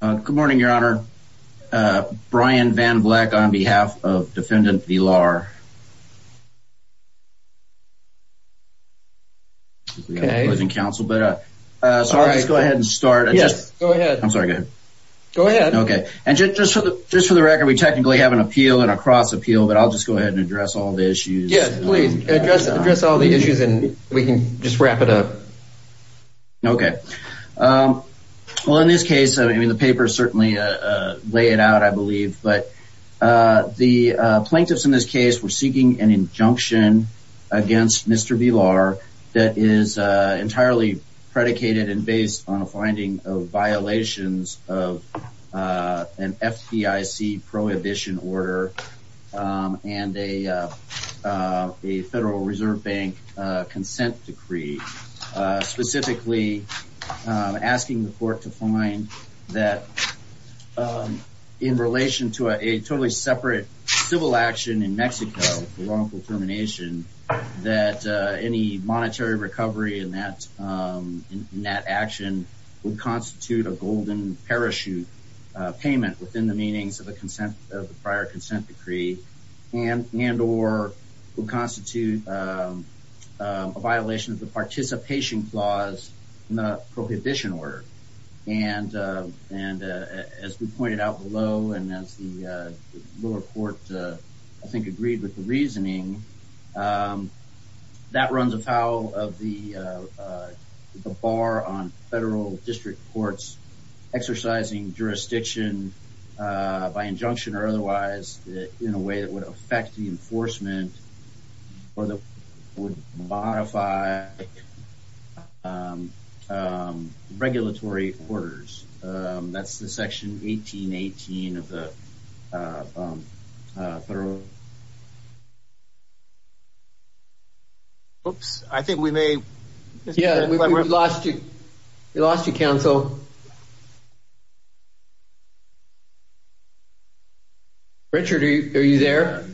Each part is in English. Good morning, Your Honor. Brian Van Vleck on behalf of Defendant Villar. Okay. Let's go ahead and start. Yes, go ahead. I'm sorry, go ahead. Go ahead. Okay. And just for the record, we technically have an appeal and a cross-appeal, but I'll just go ahead and address all the issues. Yes, please. Address all the issues and we can just wrap it up. Okay. Well, in this case, I mean, the paper certainly lay it out, I believe, but the plaintiffs in this case were seeking an injunction against Mr. Villar that is entirely predicated and based on a finding of violations of an FDIC prohibition order and a Federal Reserve Bank consent decree, specifically asking the court to find that in relation to a totally separate civil action in Mexico, the wrongful termination, that any monetary recovery in that action would constitute a golden parachute payment within the prior consent decree and or will constitute a violation of the participation clause in the prohibition order. And as we pointed out below and as the lower court, I think, agreed with the reasoning, that runs afoul of the bar on federal district courts exercising jurisdiction by injunction or otherwise in a way that would affect the enforcement or that would modify regulatory quarters. That's the section 1818 of the Oops, I think we may. Yeah, we lost you. We lost you, counsel. Richard, are you there?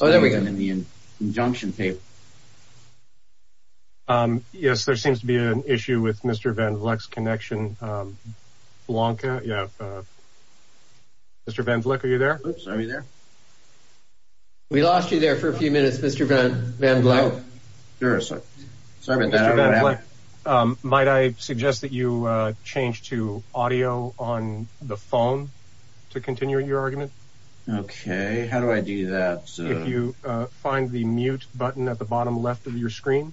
Oh, there we go. In the injunction paper. Yes, there seems to be an issue with Mr. Van Vleck's connection. Blanca, yeah. Mr. Van Vleck, are you there? Oops, are you there? We lost you there for a few minutes, Mr. Van Vleck. Sure. Sorry about that. Mr. Van Vleck, might I suggest that you change to audio on the phone to continue your argument? Okay, how do I do that? If you find the mute button at the bottom left of your screen,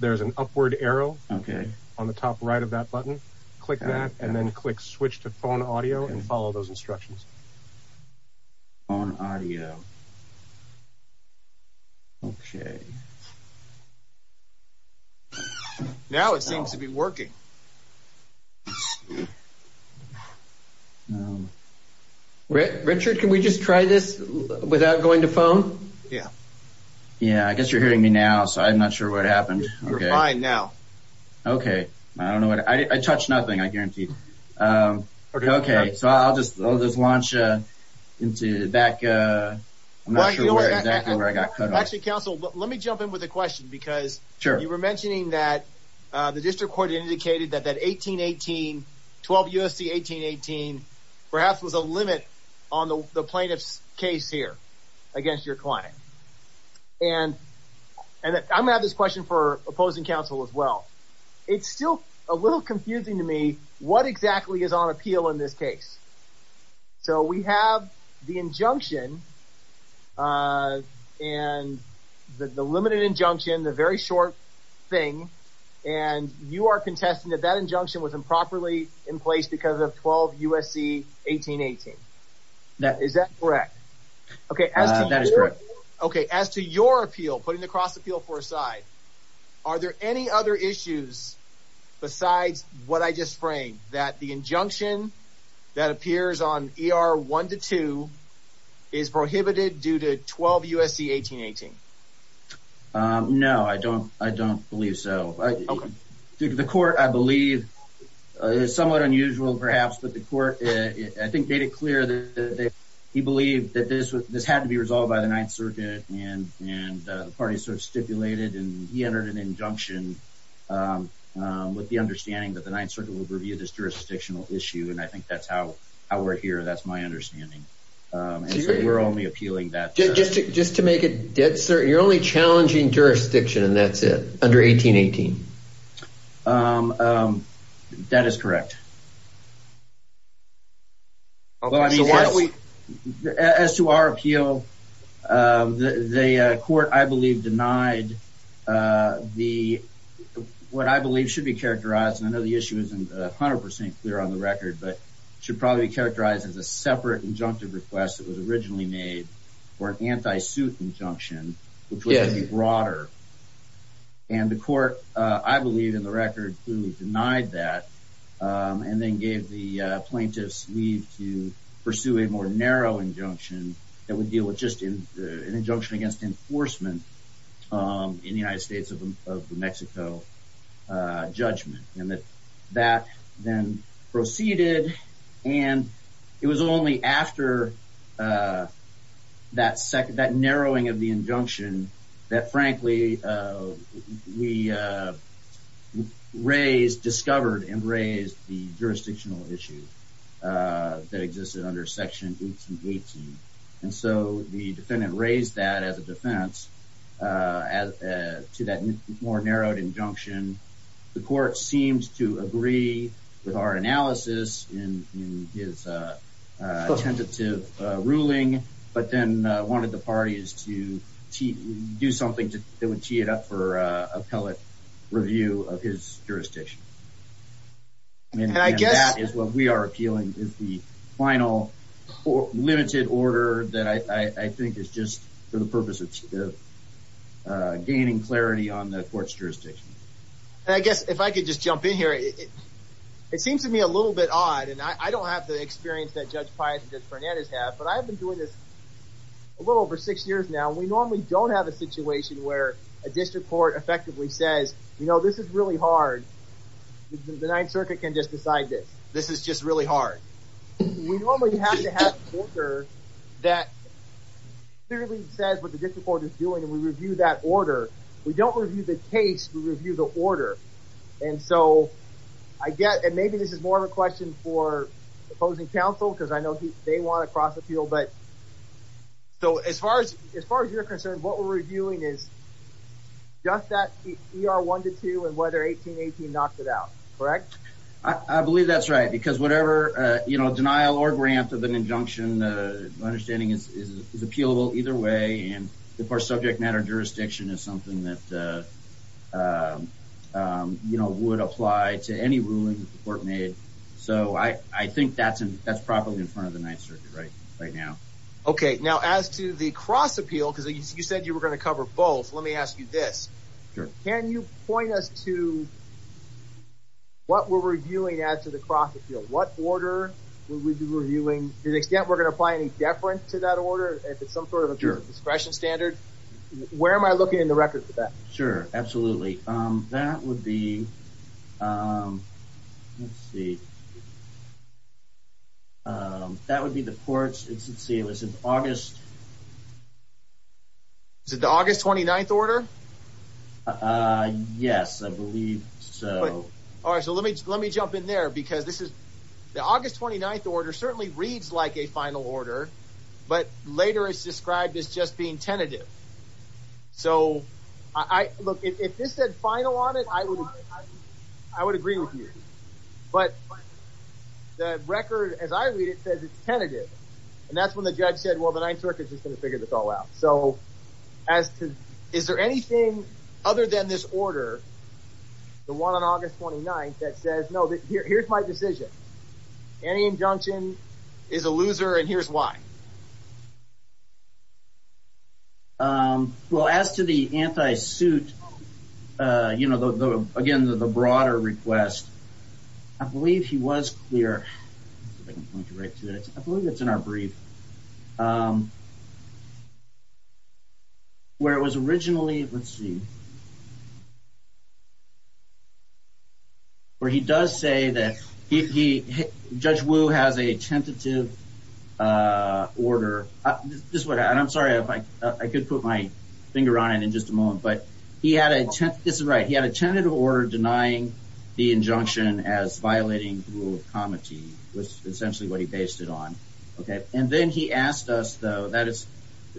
there's an upward arrow on the top right of that button. Click that and then click switch to phone audio and follow those instructions. Phone audio. Okay. Now it seems to be working. Richard, can we just try this without going to phone? Yeah. Yeah, I guess you're hearing me now, so I'm not sure what happened. You're fine now. Okay. I don't know what I did. I touched nothing, I guarantee. Okay, so I'll just launch back. I'm not sure exactly where I got cut off. Actually, counsel, let me jump in with a question because you were mentioning that the district court indicated that that 1818, 12 U.S.C. 1818, perhaps was a limit on the plaintiff's case here against your client. And I'm going to have this question for opposing counsel as well. It's still a little confusing to me what exactly is on appeal in this case. So we have the injunction and the limited injunction, the very short thing, and you are contesting that that injunction was improperly in place because of 12 U.S.C. 1818. Is that correct? That is correct. Okay. As to your appeal, putting the cross appeal for a side, are there any other issues besides what I just framed that the injunction that appears on ER 1 to 2 is prohibited due to 12 U.S.C. 1818? No, I don't believe so. The court, I believe, is somewhat unusual, perhaps, but the court, I think, made it clear that he believed that this had to be resolved by the Ninth Circuit, and the party sort of stipulated, and he entered an injunction with the understanding that the Ninth Circuit would review this jurisdictional issue, and I think that's how we're here. That's my understanding. We're only appealing that. Just to make it dead certain, you're only challenging jurisdiction, and that's it, under 1818. That is correct. Okay. So why don't we... As to our appeal, the court, I believe, denied what I believe should be characterized, and I know the issue isn't 100% clear on the record, but it should probably be characterized as a separate injunctive request that was originally made for an anti-suit injunction, which would be broader, and the court, I believe, in the record, denied that, and then gave the plaintiffs leave to pursue a more narrow injunction that would deal with just an injunction against enforcement in the United States of Mexico judgment, and that then proceeded, and it was only after that narrowing of the injunction that, frankly, we raised, discovered, and raised the jurisdictional issue that existed under Section 1818, and so the defendant raised that as a defense to that more narrowed injunction. The court seemed to agree with our analysis in his tentative ruling, but then wanted the parties to do something that would tee it up for appellate review of his jurisdiction, and that is what we are appealing is the final limited order that I think is just for the purpose of gaining clarity on the court's jurisdiction. I guess if I could just jump in here, it seems to me a little bit odd, and I don't have the experience that Judge Pius and Judge where a district court effectively says, you know, this is really hard. The Ninth Circuit can just decide this. This is just really hard. We normally have to have order that clearly says what the district court is doing, and we review that order. We don't review the case. We review the order, and so I get, and maybe this is more of a question for opposing counsel, because I know they want to cross appeal, but so as far as you're concerned, what we're reviewing is just that ER 1-2 and whether 1818 knocked it out, correct? I believe that's right, because whatever, you know, denial or grant of an injunction, my understanding is it's appealable either way, and if our subject matter jurisdiction is something that, you know, would apply to any ruling that the court made, so I think that's in, that's probably in front of the Ninth Circuit right now. Okay, now as to the cross appeal, because you said you were going to cover both, let me ask you this. Sure. Can you point us to what we're reviewing as to the cross appeal? What order would we be reviewing to the extent we're going to apply any deference to that order if it's some sort of a discretion standard? Where am I looking in the record for that? Sure, absolutely. That would be, let's see, that would be the court's, let's see, it was in August. Is it the August 29th order? Yes, I believe so. All right, so let me, let me jump in there, because this is, the August 29th order certainly reads like a final order, but later it's described as just being tentative, so I, look, if this said final on it, I would, I would agree with you, but the record as I read it says it's tentative, and that's when the judge said, well, the Ninth Circuit's just going to figure this all out, so as to, is there anything other than this order, the one on August 29th, that says, no, here's my decision, any injunction is a loser, and here's why. Well, as to the anti-suit, you know, the, again, the broader request, I believe he was clear, I believe it's in our brief, where he does say that he, Judge Wu has a tentative order, this is what, and I'm sorry if I, I could put my finger on it in just a moment, but he had a, this is right, he had a tentative order denying the injunction as violating the rule of comity, which is essentially what he based it on, okay, and then he asked us, though, that is,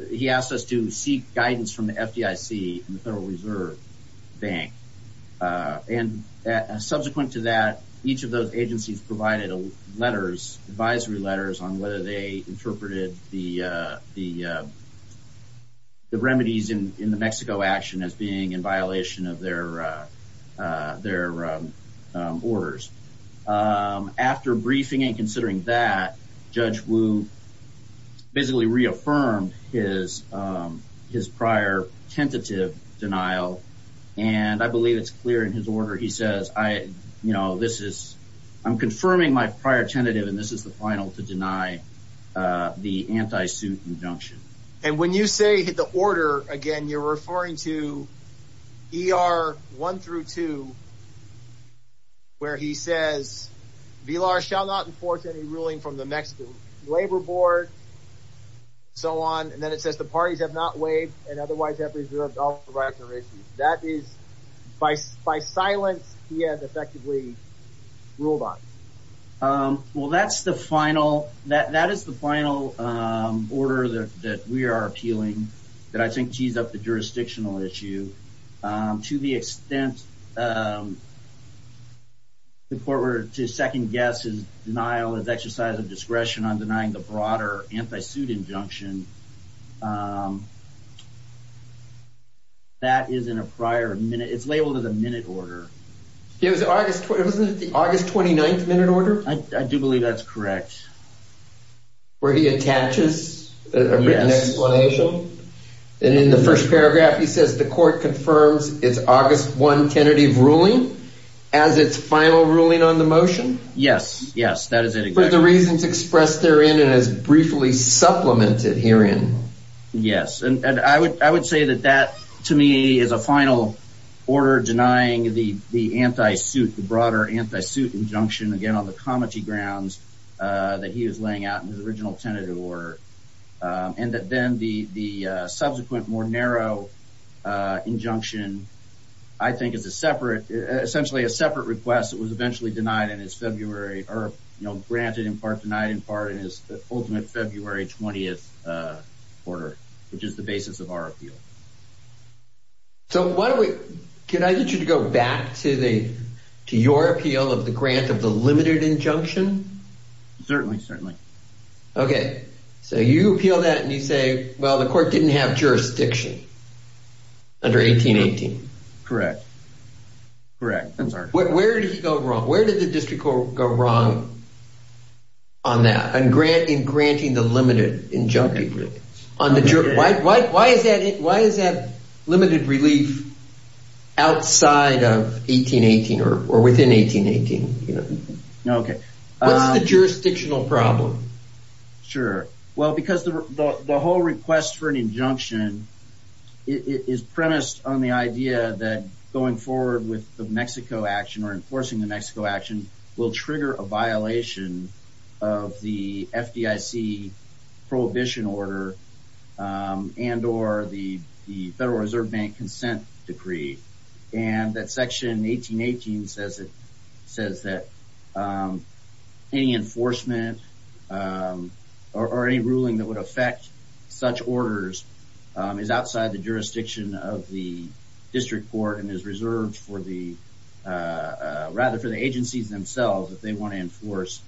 he asked us to seek guidance from the FDIC and the Federal Reserve Bank, and subsequent to that, each of those agencies provided letters, advisory letters, on whether they interpreted the remedies in the Mexico action as being in violation of their orders. After briefing and considering that, Judge Wu basically reaffirmed his, his prior tentative denial, and I believe it's clear in his order, he says, I, you know, this is, I'm confirming my prior tentative, and this is the final to deny the anti-suit injunction. And when you say the order, again, you're referring to ER 1 through 2, where he says, VILAR shall not enforce any ruling from the Mexican Labor Board, so on, and then it says, the parties have not waived and otherwise have reserved all providers and ratios. That is, by, by silence, he had effectively ruled on it. Well, that's the final, that, that is the final order that, that we are appealing, that I think tees up the jurisdictional issue, to the extent, um, the court were to second guess his denial, his exercise of discretion on denying the broader anti-suit injunction. Um, that is in a prior minute, it's labeled as a minute order. It was August, wasn't it the August 29th minute order? I, I do believe that's correct. Where he attaches a written explanation, and in the first paragraph, he says, the court confirms it's August 1, tentative ruling as its final ruling on the motion. Yes, yes, that is it. For the reasons expressed therein, and as briefly supplemented herein. Yes. And, and I would, I would say that that to me is a final order denying the, the anti-suit, the broader anti-suit injunction, again, on the comity grounds, uh, that he was laying out in original tentative order. Um, and that then the, the, uh, subsequent more narrow, uh, injunction, I think is a separate, essentially a separate request that was eventually denied in his February, or, you know, granted in part, denied in part in his ultimate February 20th, uh, order, which is the basis of our appeal. So why don't we, can I get you to go back to the, to your appeal of the grant of the limited injunction? Certainly, certainly. Okay. So you appeal that and you say, well, the court didn't have jurisdiction under 1818. Correct. Correct. I'm sorry. Where did he go wrong? Where did the district court go wrong on that? And grant, in granting the limited injunction on the jury. Why, why, why is that it, why is that limited relief outside of 1818 or, or within 1818? Okay. What's the jurisdictional problem? Sure. Well, because the, the whole request for an injunction, it is premised on the idea that going forward with the Mexico action or enforcing the Mexico action will trigger a violation of the FDIC prohibition order, um, and or the, the Federal Reserve Bank consent decree. And that section 1818 says it says that, um, any enforcement, um, or, or any ruling that would affect such orders, um, is outside the jurisdiction of the district court and is reserved for the, uh, uh, rather for the agencies themselves, if they want to enforce,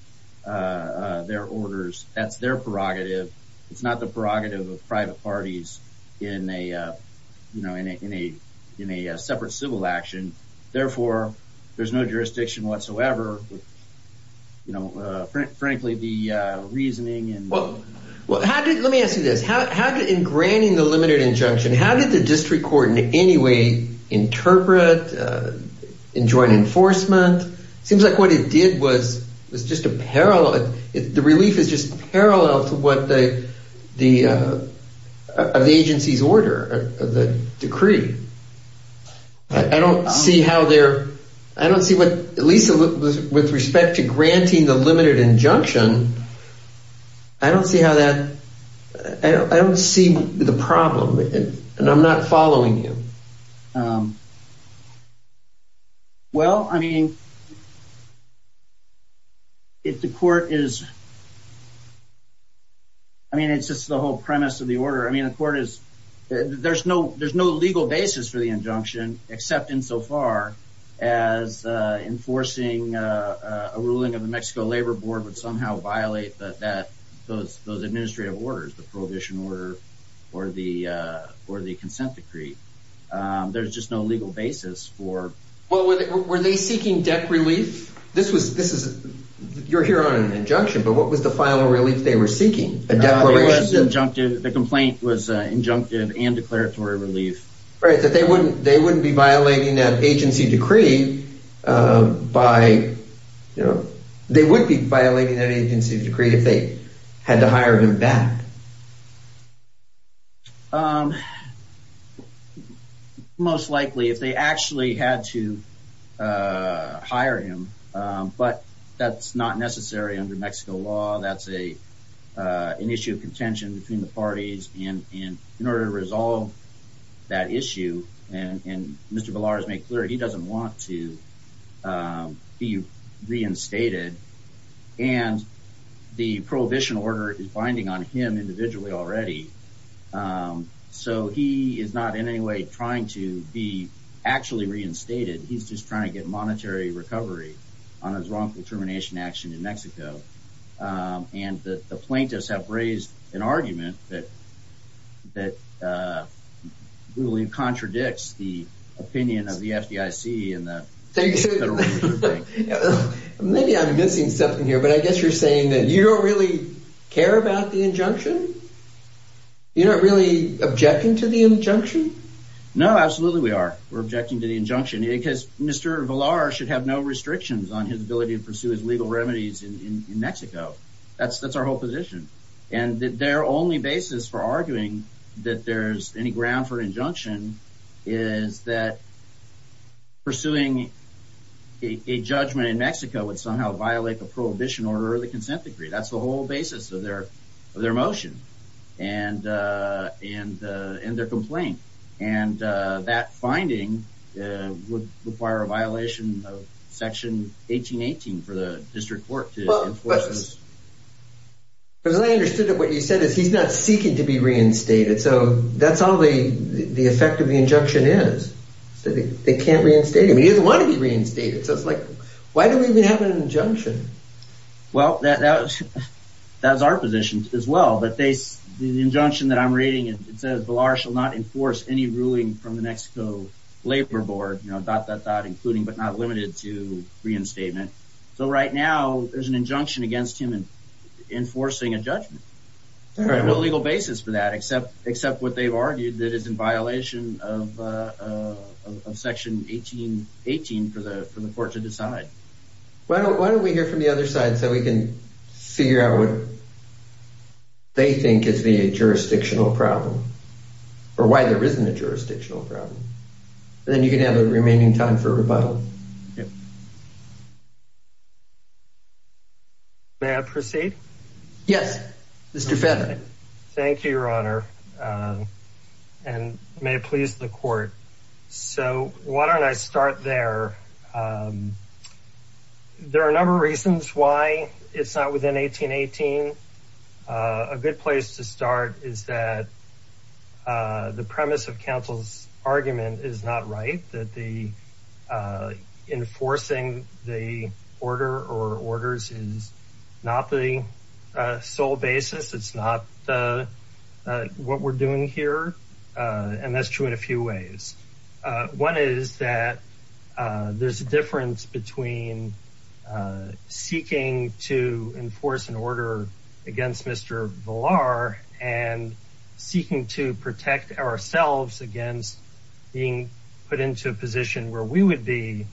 uh, uh, their orders, that's their prerogative. It's not the prerogative of private parties in a, uh, you know, in a, in a, in a separate civil action. Therefore, there's no jurisdiction whatsoever with, you know, uh, frankly, the, uh, reasoning and... Well, well, how did, let me ask you this, how, how did in granting the limited injunction, how did the district court in any way interpret, uh, in joint enforcement? It seems like what it did was, was just a parallel, the relief is just I don't see how they're, I don't see what, at least with respect to granting the limited injunction, I don't see how that, I don't see the problem and I'm not following you. Well, I mean, if the court is, I mean, it's just the whole premise of the order. I mean, the court is, there's no, there's no legal basis for the injunction except in so far as, uh, enforcing, uh, uh, a ruling of the Mexico labor board would somehow violate that, that, those, those administrative orders, the prohibition order or the, uh, or the consent decree. There's just no legal basis for... Well, were they, were they seeking debt relief? This was, this is, you're here on an injunction, but what was the final relief they were seeking? Injunctive, the complaint was, uh, injunctive and declaratory relief. Right, that they wouldn't, they wouldn't be violating that agency decree, uh, by, you know, they would be violating that agency decree if they had to hire him back. Um, most likely if they actually had to, uh, hire him, um, but that's not necessary under Mexico law. That's a, uh, an issue of contention between the parties and, and in order to resolve that issue and, and Mr. Ballard has made clear he doesn't want to, um, be reinstated and the prohibition order is binding on him individually already. Um, so he is not in any way trying to be actually reinstated. He's just trying to get monetary recovery on his termination action in Mexico. Um, and the plaintiffs have raised an argument that, that, uh, really contradicts the opinion of the FDIC and the... Maybe I'm missing something here, but I guess you're saying that you don't really care about the injunction? You're not really objecting to the injunction? No, absolutely we are. We're objecting to the injunction because Mr. Ballard should have no to pursue his legal remedies in Mexico. That's, that's our whole position. And their only basis for arguing that there's any ground for an injunction is that pursuing a judgment in Mexico would somehow violate the prohibition order of the consent decree. That's the whole basis of their, of their motion and, uh, and, uh, and their complaint. And, uh, that finding, uh, would require a violation of section 1818 for the district court to enforce this. Because I understood that what you said is he's not seeking to be reinstated. So that's all the, the effect of the injunction is that they can't reinstate him. He doesn't want to be reinstated. So it's like, why do we even have an injunction? Well, that, that was, that was our position as well. But they, the injunction that I'm reading, it says Ballard shall not enforce any ruling from the Mexico labor board, you know, dot, dot, dot, including, but not limited to reinstatement. So right now there's an injunction against him enforcing a judgment. There's no legal basis for that, except, except what they've argued that is in violation of, uh, uh, of section 1818 for the, for the court to decide. Why don't, why don't we hear from the other side so we can figure out what they think is the jurisdictional problem or why there isn't a jurisdictional problem. Then you can have the remaining time for rebuttal. May I proceed? Yes, Mr. Fetter. Thank you, your honor. Um, and may it please the court. So why don't I start there? Um, there are a number of reasons why it's not within 1818. Uh, a good place to start is that, uh, the premise of counsel's argument is not right. That the, uh, enforcing the order or orders is not the, uh, sole basis. It's not the, uh, what we're doing here. Uh, and that's true in a few ways. Uh, one is that, uh, there's a difference between, uh, seeking to enforce an order against Mr. Villar and seeking to protect ourselves against being put into a position where we would be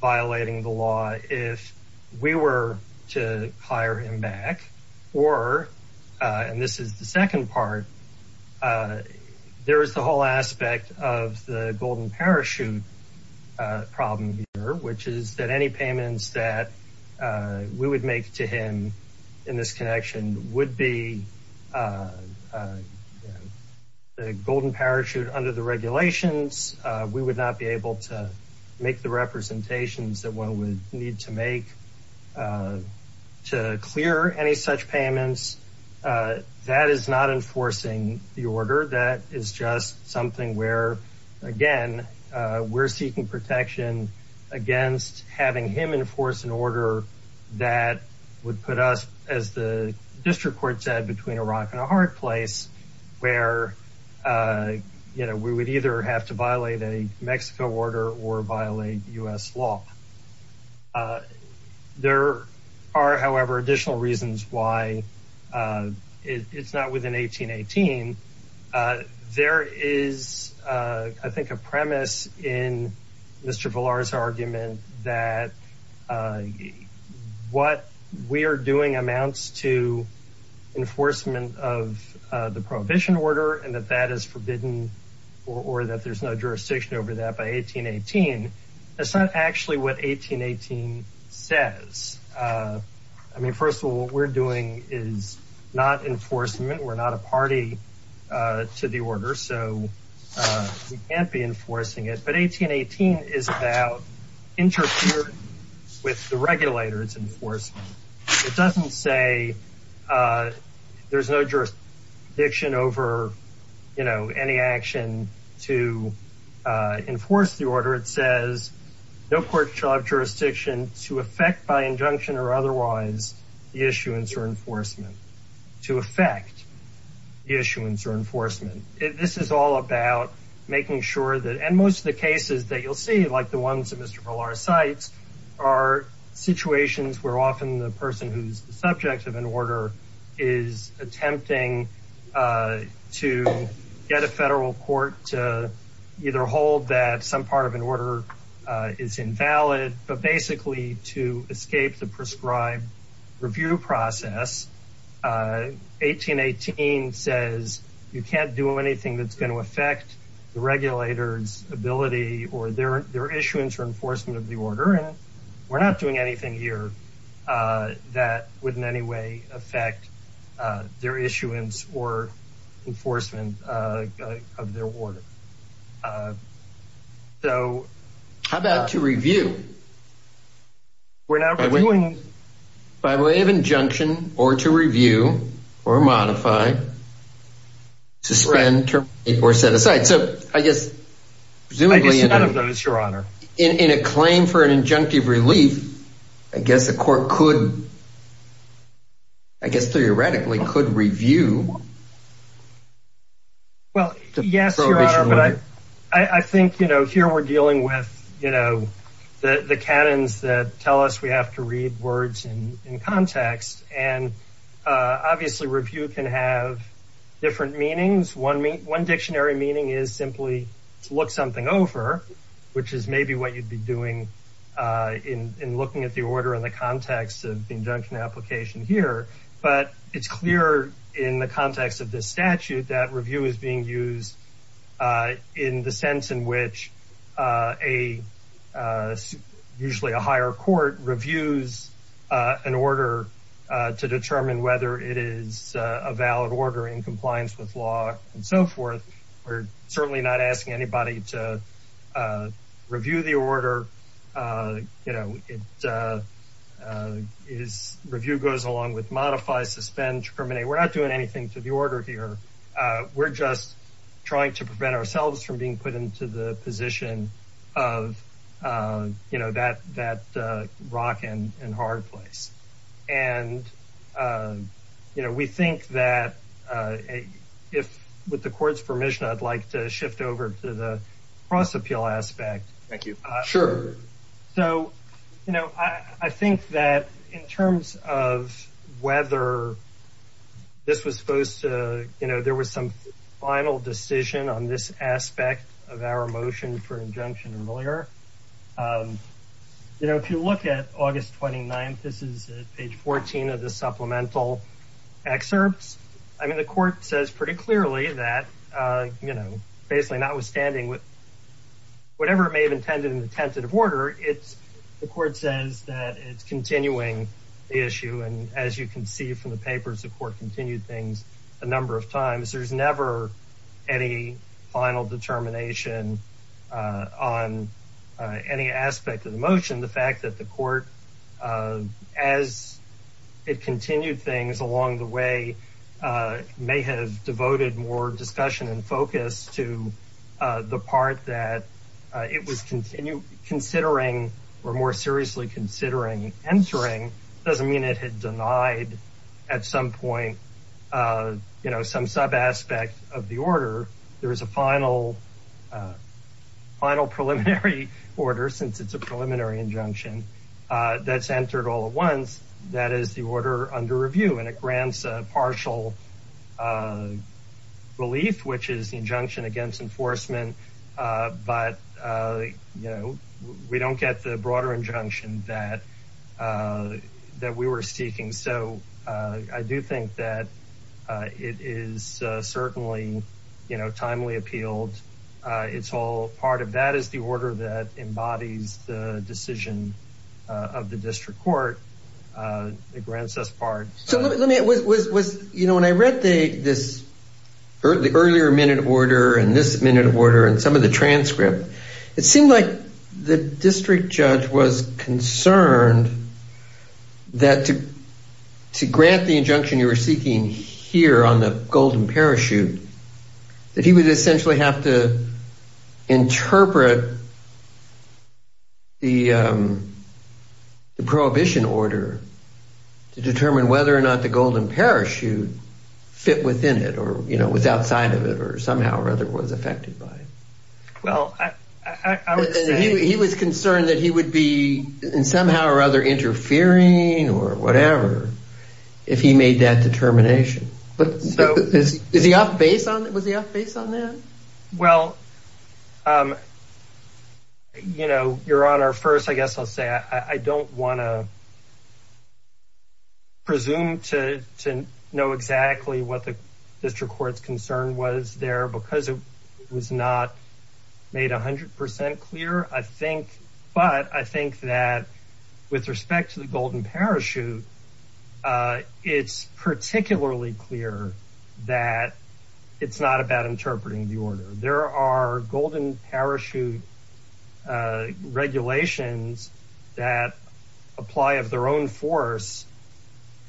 violating the law. If we were to hire him back or, uh, and this is the second part, uh, there is the whole aspect of the golden parachute, uh, problem here, which is that any payments that, uh, we would make to him in this connection would be, uh, uh, the golden parachute under the regulations. Uh, we would not be able to make the representations that one would need to make, uh, to clear any payments. Uh, that is not enforcing the order. That is just something where, again, uh, we're seeking protection against having him enforce an order that would put us as the district court said between a rock and a hard place where, uh, you know, we would either have to violate a Mexico order or violate U.S. law. Uh, there are, however, additional reasons why, uh, it's not within 1818. Uh, there is, uh, I think a premise in Mr. Villar's argument that, uh, what we are doing amounts to enforcement of, uh, the prohibition order and that that is forbidden or that there's no jurisdiction over that by 1818. That's not actually what 1818 says. Uh, I mean, first of all, what we're doing is not enforcement. We're not a party, uh, to the order. So, uh, we can't be enforcing it, but 1818 is about interfering with the regulators enforcement. It doesn't say, uh, there's no jurisdiction over, you know, any action to, uh, enforce the order. It says no court shall have jurisdiction to affect by injunction or otherwise the issuance or enforcement to affect the issuance or enforcement. This is all about making sure that, and most of the cases that you'll see, like the ones that Mr. Villar cites are situations where often the person who's the subject of an order is attempting, uh, to get a federal court to either hold that some part of an order, uh, is invalid, but basically to escape the prescribed review process. Uh, 1818 says you can't do anything that's going to affect the regulator's ability or their, their issuance or enforcement of the order. And we're not doing anything here, uh, that would in any way affect, uh, their issuance or enforcement, uh, of their order. Uh, so how about to review? We're not reviewing. By way of injunction or to review or modify, suspend, terminate, or set aside. So I guess, presumably, in a claim for an injunctive relief, I guess the court could, I guess, theoretically could review. Well, yes, but I, I think, you know, here we're dealing with, you know, the, the canons that tell us we have to read words in context and, uh, obviously review can have different meanings. One mean, one dictionary meaning is simply to look something over, which is maybe what you'd be doing, uh, in, in looking at the order and the context of the injunction application here. But it's clear in the context of this statute that review is being used, uh, in the sense in which, uh, a, uh, usually a higher court reviews, uh, an order, uh, to determine whether it is, uh, a valid order in compliance with law and so forth. We're certainly not asking anybody to, uh, review the order. Uh, you know, it, uh, uh, is review goes along with modify, suspend, terminate. We're not doing anything to the order here. Uh, we're just trying to prevent ourselves from being put into the position of, uh, you know, that, that, uh, rock and hard place. And, um, you know, we think that, uh, if with the court's permission, I'd like to shift over to the cross appeal aspect. Thank you. Sure. So, you know, I think that in terms of whether this was supposed to, you know, there was some final decision on this aspect of August 29th, this is page 14 of the supplemental excerpts. I mean, the court says pretty clearly that, uh, you know, basically not withstanding with whatever it may have intended in the tentative order, it's the court says that it's continuing the issue. And as you can see from the papers, the court continued things a number of times. There's never any final determination, uh, on, uh, any aspect of the motion. The fact that the court, uh, as it continued things along the way, uh, may have devoted more discussion and focus to, uh, the part that, uh, it was continue considering or more seriously considering entering. It doesn't mean it had denied at some point, uh, you know, some sub aspect of the order. There was a final, uh, final preliminary order, since it's a preliminary injunction, uh, that's entered all at once. That is the order under review and it grants a partial, uh, relief, which is the injunction against enforcement. Uh, but, uh, you know, we don't get the broader injunction that, uh, that we were seeking. So, uh, I do think that, uh, it is, uh, certainly, you know, uh, it's all part of that is the order that embodies the decision, uh, of the district court, uh, it grants us part. So let me, let me, it was, was, was, you know, when I read the, this the earlier minute order and this minute order and some of the transcript, it seemed like the district judge was concerned that to, to grant the injunction you were seeking here on the golden parachute, that he would essentially have to interpret the, um, the prohibition order to determine whether or not the golden parachute fit within it, or, you know, was outside of it, or somehow or other was affected by it. Well, I, I would say he was concerned that he would be somehow or other interfering or whatever if he made that determination, but is he off base on it? Was he off base on that? Well, um, you know, your honor, first, I guess I'll say, I don't want to presume to, to know exactly what the district court's concern was there because it was not made a hundred percent clear. I think, but I think that with respect to the golden parachute, it's particularly clear that it's not about interpreting the order. There are golden parachute regulations that apply of their own force,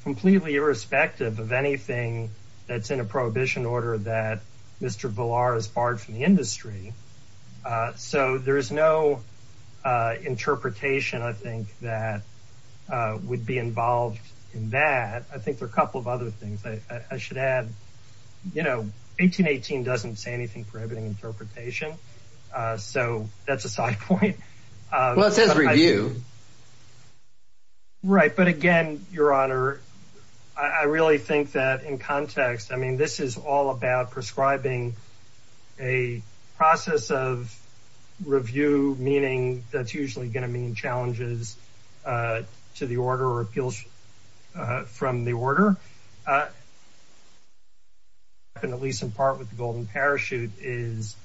completely irrespective of anything that's in a prohibition order that Mr. Villar has borrowed from the industry. Uh, so there is no, uh, interpretation I think that, uh, would be involved in that. I think there are a couple of other things I should add, you know, 1818 doesn't say anything prohibiting interpretation. Uh, so that's a side point. Well, it says review. Right. But again, your honor, I really think that in context, I mean, this is all about prescribing a process of review, meaning that's usually going to mean challenges, uh, to the order or appeals from the order. Uh, and at least in part with the golden parachute is,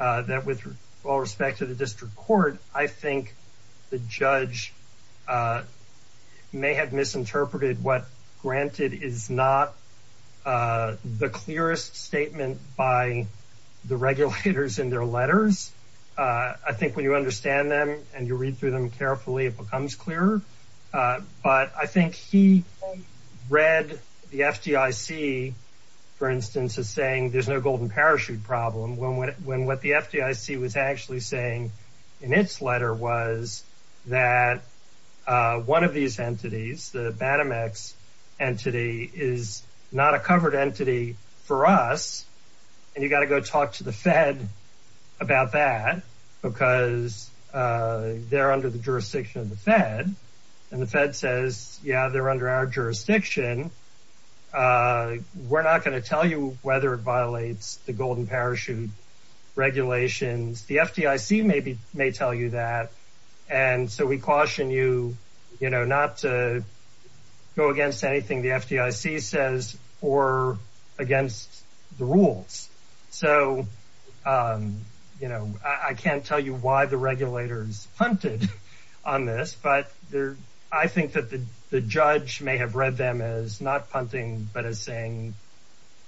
uh, that with all respect to the district court, I think the judge, uh, may have misinterpreted what granted is not, uh, the clearest statement by the regulators in their letters. Uh, I think when you understand them and you read through them carefully, it becomes clearer. Uh, but I think he read the FDIC for instance, is saying there's no golden parachute problem when, when, when, what the FDIC was actually saying in its letter was that, uh, one of these entities, the BADMX entity is not a covered entity for us. And you got to go talk to the fed about that because, uh, they're under the jurisdiction of the fed and the fed says, yeah, they're under our jurisdiction. Uh, we're the golden parachute regulations. The FDIC maybe may tell you that. And so we caution you, you know, not to go against anything the FDIC says or against the rules. So, um, you know, I can't tell you why the regulators hunted on this, but there, I think that the judge may have read them as not punting, but as saying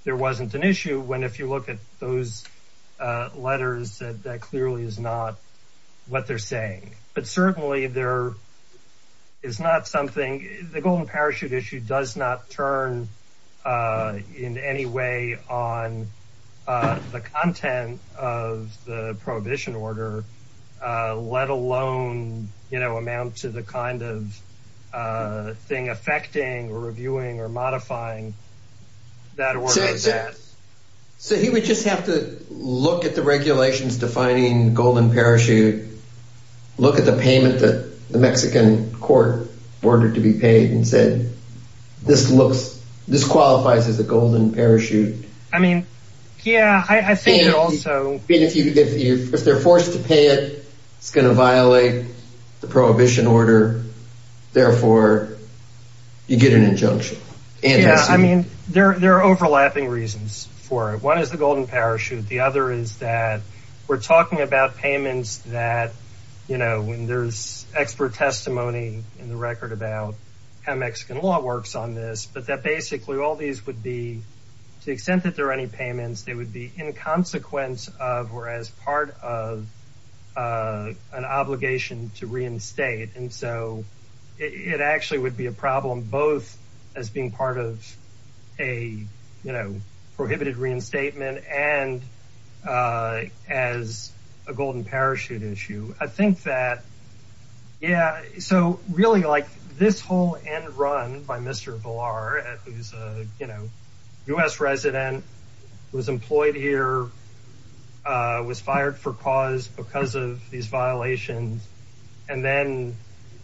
there wasn't an issue when, if you look at those, uh, letters that that clearly is not what they're saying, but certainly there is not something, the golden parachute issue does not turn, uh, in any way on, uh, the content of the prohibition order, uh, let alone, you know, amount to the kind of, uh, thing affecting or reviewing or modifying that. So he would just have to look at the regulations, defining golden parachute, look at the payment that the Mexican court ordered to be paid and said, this looks, this qualifies as a golden parachute. I mean, yeah, I think also if you, if you, if they're forced to pay it, it's going to violate the prohibition order. Therefore you get an injunction. Yeah. I mean, there, there are overlapping reasons for it. One is the golden parachute. The other is that we're talking about payments that, you know, when there's expert testimony in the record about how Mexican law works on this, but that basically all these would be to the extent that there are any payments, they would be in consequence of, or as part of, uh, an obligation to reinstate. And so it actually would be a problem both as being part of a, you know, prohibited reinstatement and, uh, as a golden parachute issue. I think that, yeah. So really like this whole end run by Mr. Villar, who's a, you know, U S resident was employed here, uh, was fired for cause because of these violations and then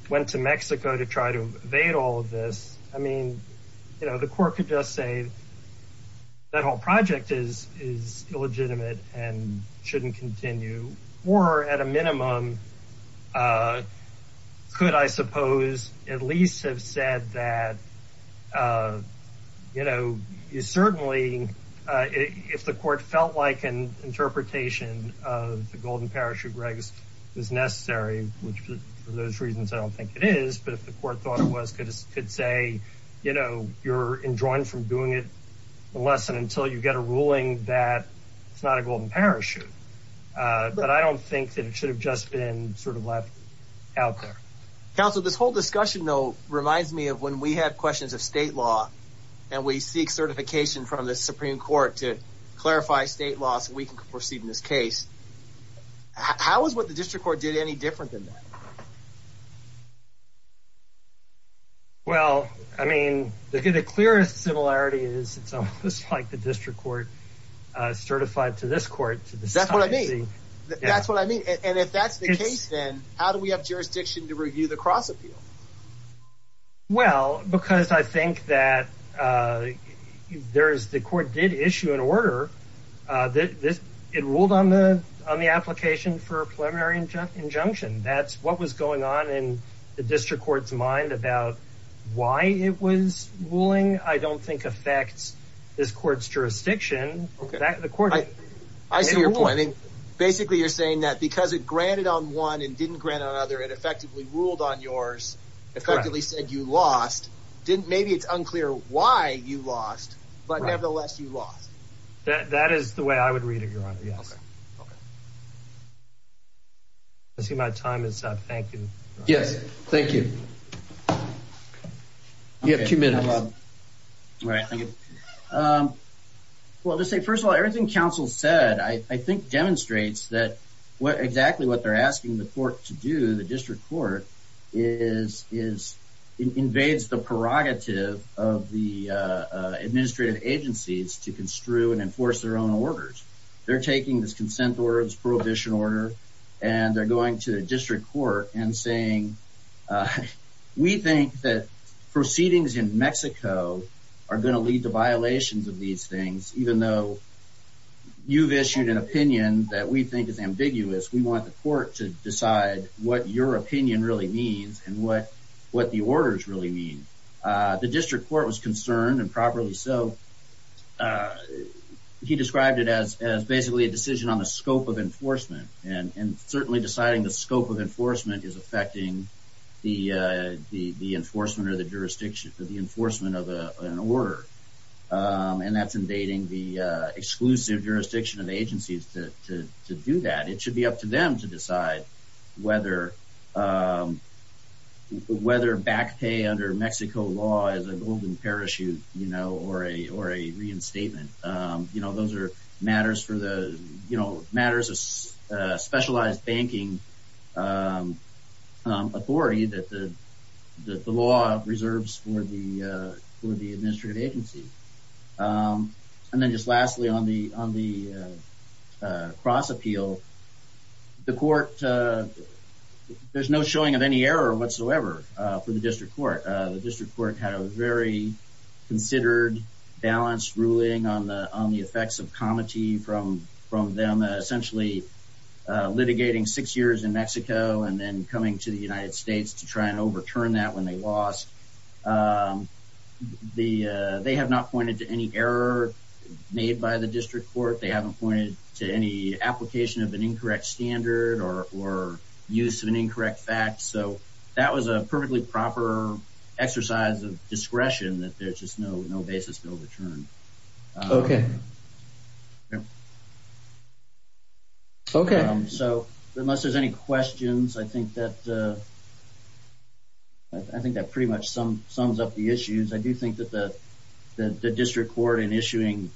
went to Mexico to try to evade all of this. I mean, you know, the court could just say that whole project is, is illegitimate and shouldn't continue. Or at a minimum, uh, could I suppose at least have said that, uh, you know, you certainly, uh, if the court felt like an interpretation of the golden parachute regs was necessary, which for those reasons, I don't think it is, but if the court thought it was good, it could say, you know, you're enjoined from doing it unless and until you get a ruling that it's not a golden parachute. Uh, but I don't think that it should have just been sort of left out there. Counsel, this whole discussion though, reminds me of when we have questions of state law and we seek certification from the Supreme court to clarify state law so we can proceed in this case. How is what the district court did any different than that? Well, I mean, the, the clearest similarity is it's almost like the district court, uh, certified to this court. That's what I mean. That's what I mean. And if that's the case, then how do we have jurisdiction to review the cross appeal? Well, because I think that, uh, there's the court did issue an order, uh, that this, it ruled on the, on the application for a preliminary injunction. That's what was going on in the district court's mind about why it was ruling. I don't think affects this court's jurisdiction. Okay. The court, I see your point. I mean, basically you're saying that because it granted on one and didn't grant on other, it effectively ruled on yours effectively said you lost didn't, maybe it's unclear why you lost, but nevertheless you lost that. That is the way I would read it. I see my time is up. Thank you. Yes. Thank you. You have two minutes. Um, well, just say, first of all, everything council said, I think demonstrates that what exactly what they're asking the court to do. The district court is, is invades the prerogative of the, uh, uh, administrative agencies to construe and enforce their own orders. They're taking this consent words, prohibition order, and they're going to the district court and saying, uh, we think that proceedings in Mexico are going to lead to violations of these things. Even though you've issued an opinion that we think is ambiguous, we want the court to decide what your opinion really means and what, what the orders really mean. Uh, the district court was concerned and properly. So, uh, he described it as, as basically a decision on the scope of enforcement and, and certainly deciding the scope of enforcement is affecting the, uh, the, the enforcement or the jurisdiction of the enforcement of an order. Um, and that's invading the, uh, exclusive jurisdiction of agencies to, to, to do that. It should be up to them to decide whether, um, whether back pay under Mexico law is a golden parachute, you know, or a, or a reinstatement. Um, you know, those are matters for the, you know, matters, uh, specialized banking, um, um, authority that the, that the law reserves for the, uh, for the administrative agency. Um, and then just lastly on the, on the, uh, uh, cross appeal, the court, uh, there's no showing of any error whatsoever, uh, for the district court. Uh, the district court had a very considered balanced ruling on the, on the effects of comity from, from them, uh, essentially, uh, litigating six years in Mexico and then coming to the United States. Um, the, uh, they have not pointed to any error made by the district court. They haven't pointed to any application of an incorrect standard or, or use of an incorrect fact. So that was a perfectly proper exercise of discretion that there's just no, no basis bill to turn. Um, so unless there's any questions, I think that, uh, I think that pretty much sums up the issues. I do think that the, the district court in issuing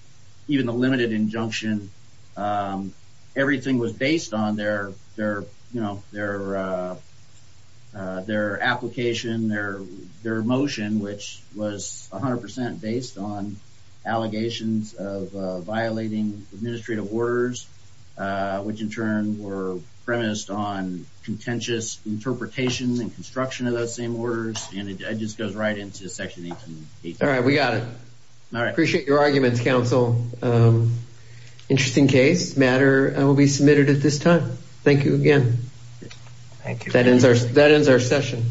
even the limited injunction, um, everything was based on their, their, you know, their, uh, uh, their application, their, their motion, which was a hundred percent based on allegations of violating administrative orders, uh, which in turn were premised on contentious interpretation and construction of those same orders. And it just goes right into section 18. All right. We got it. All right. Appreciate your arguments. Counsel. Um, interesting case matter will be submitted at this time. Thank you again. Thank you. That ends our, that ends our session.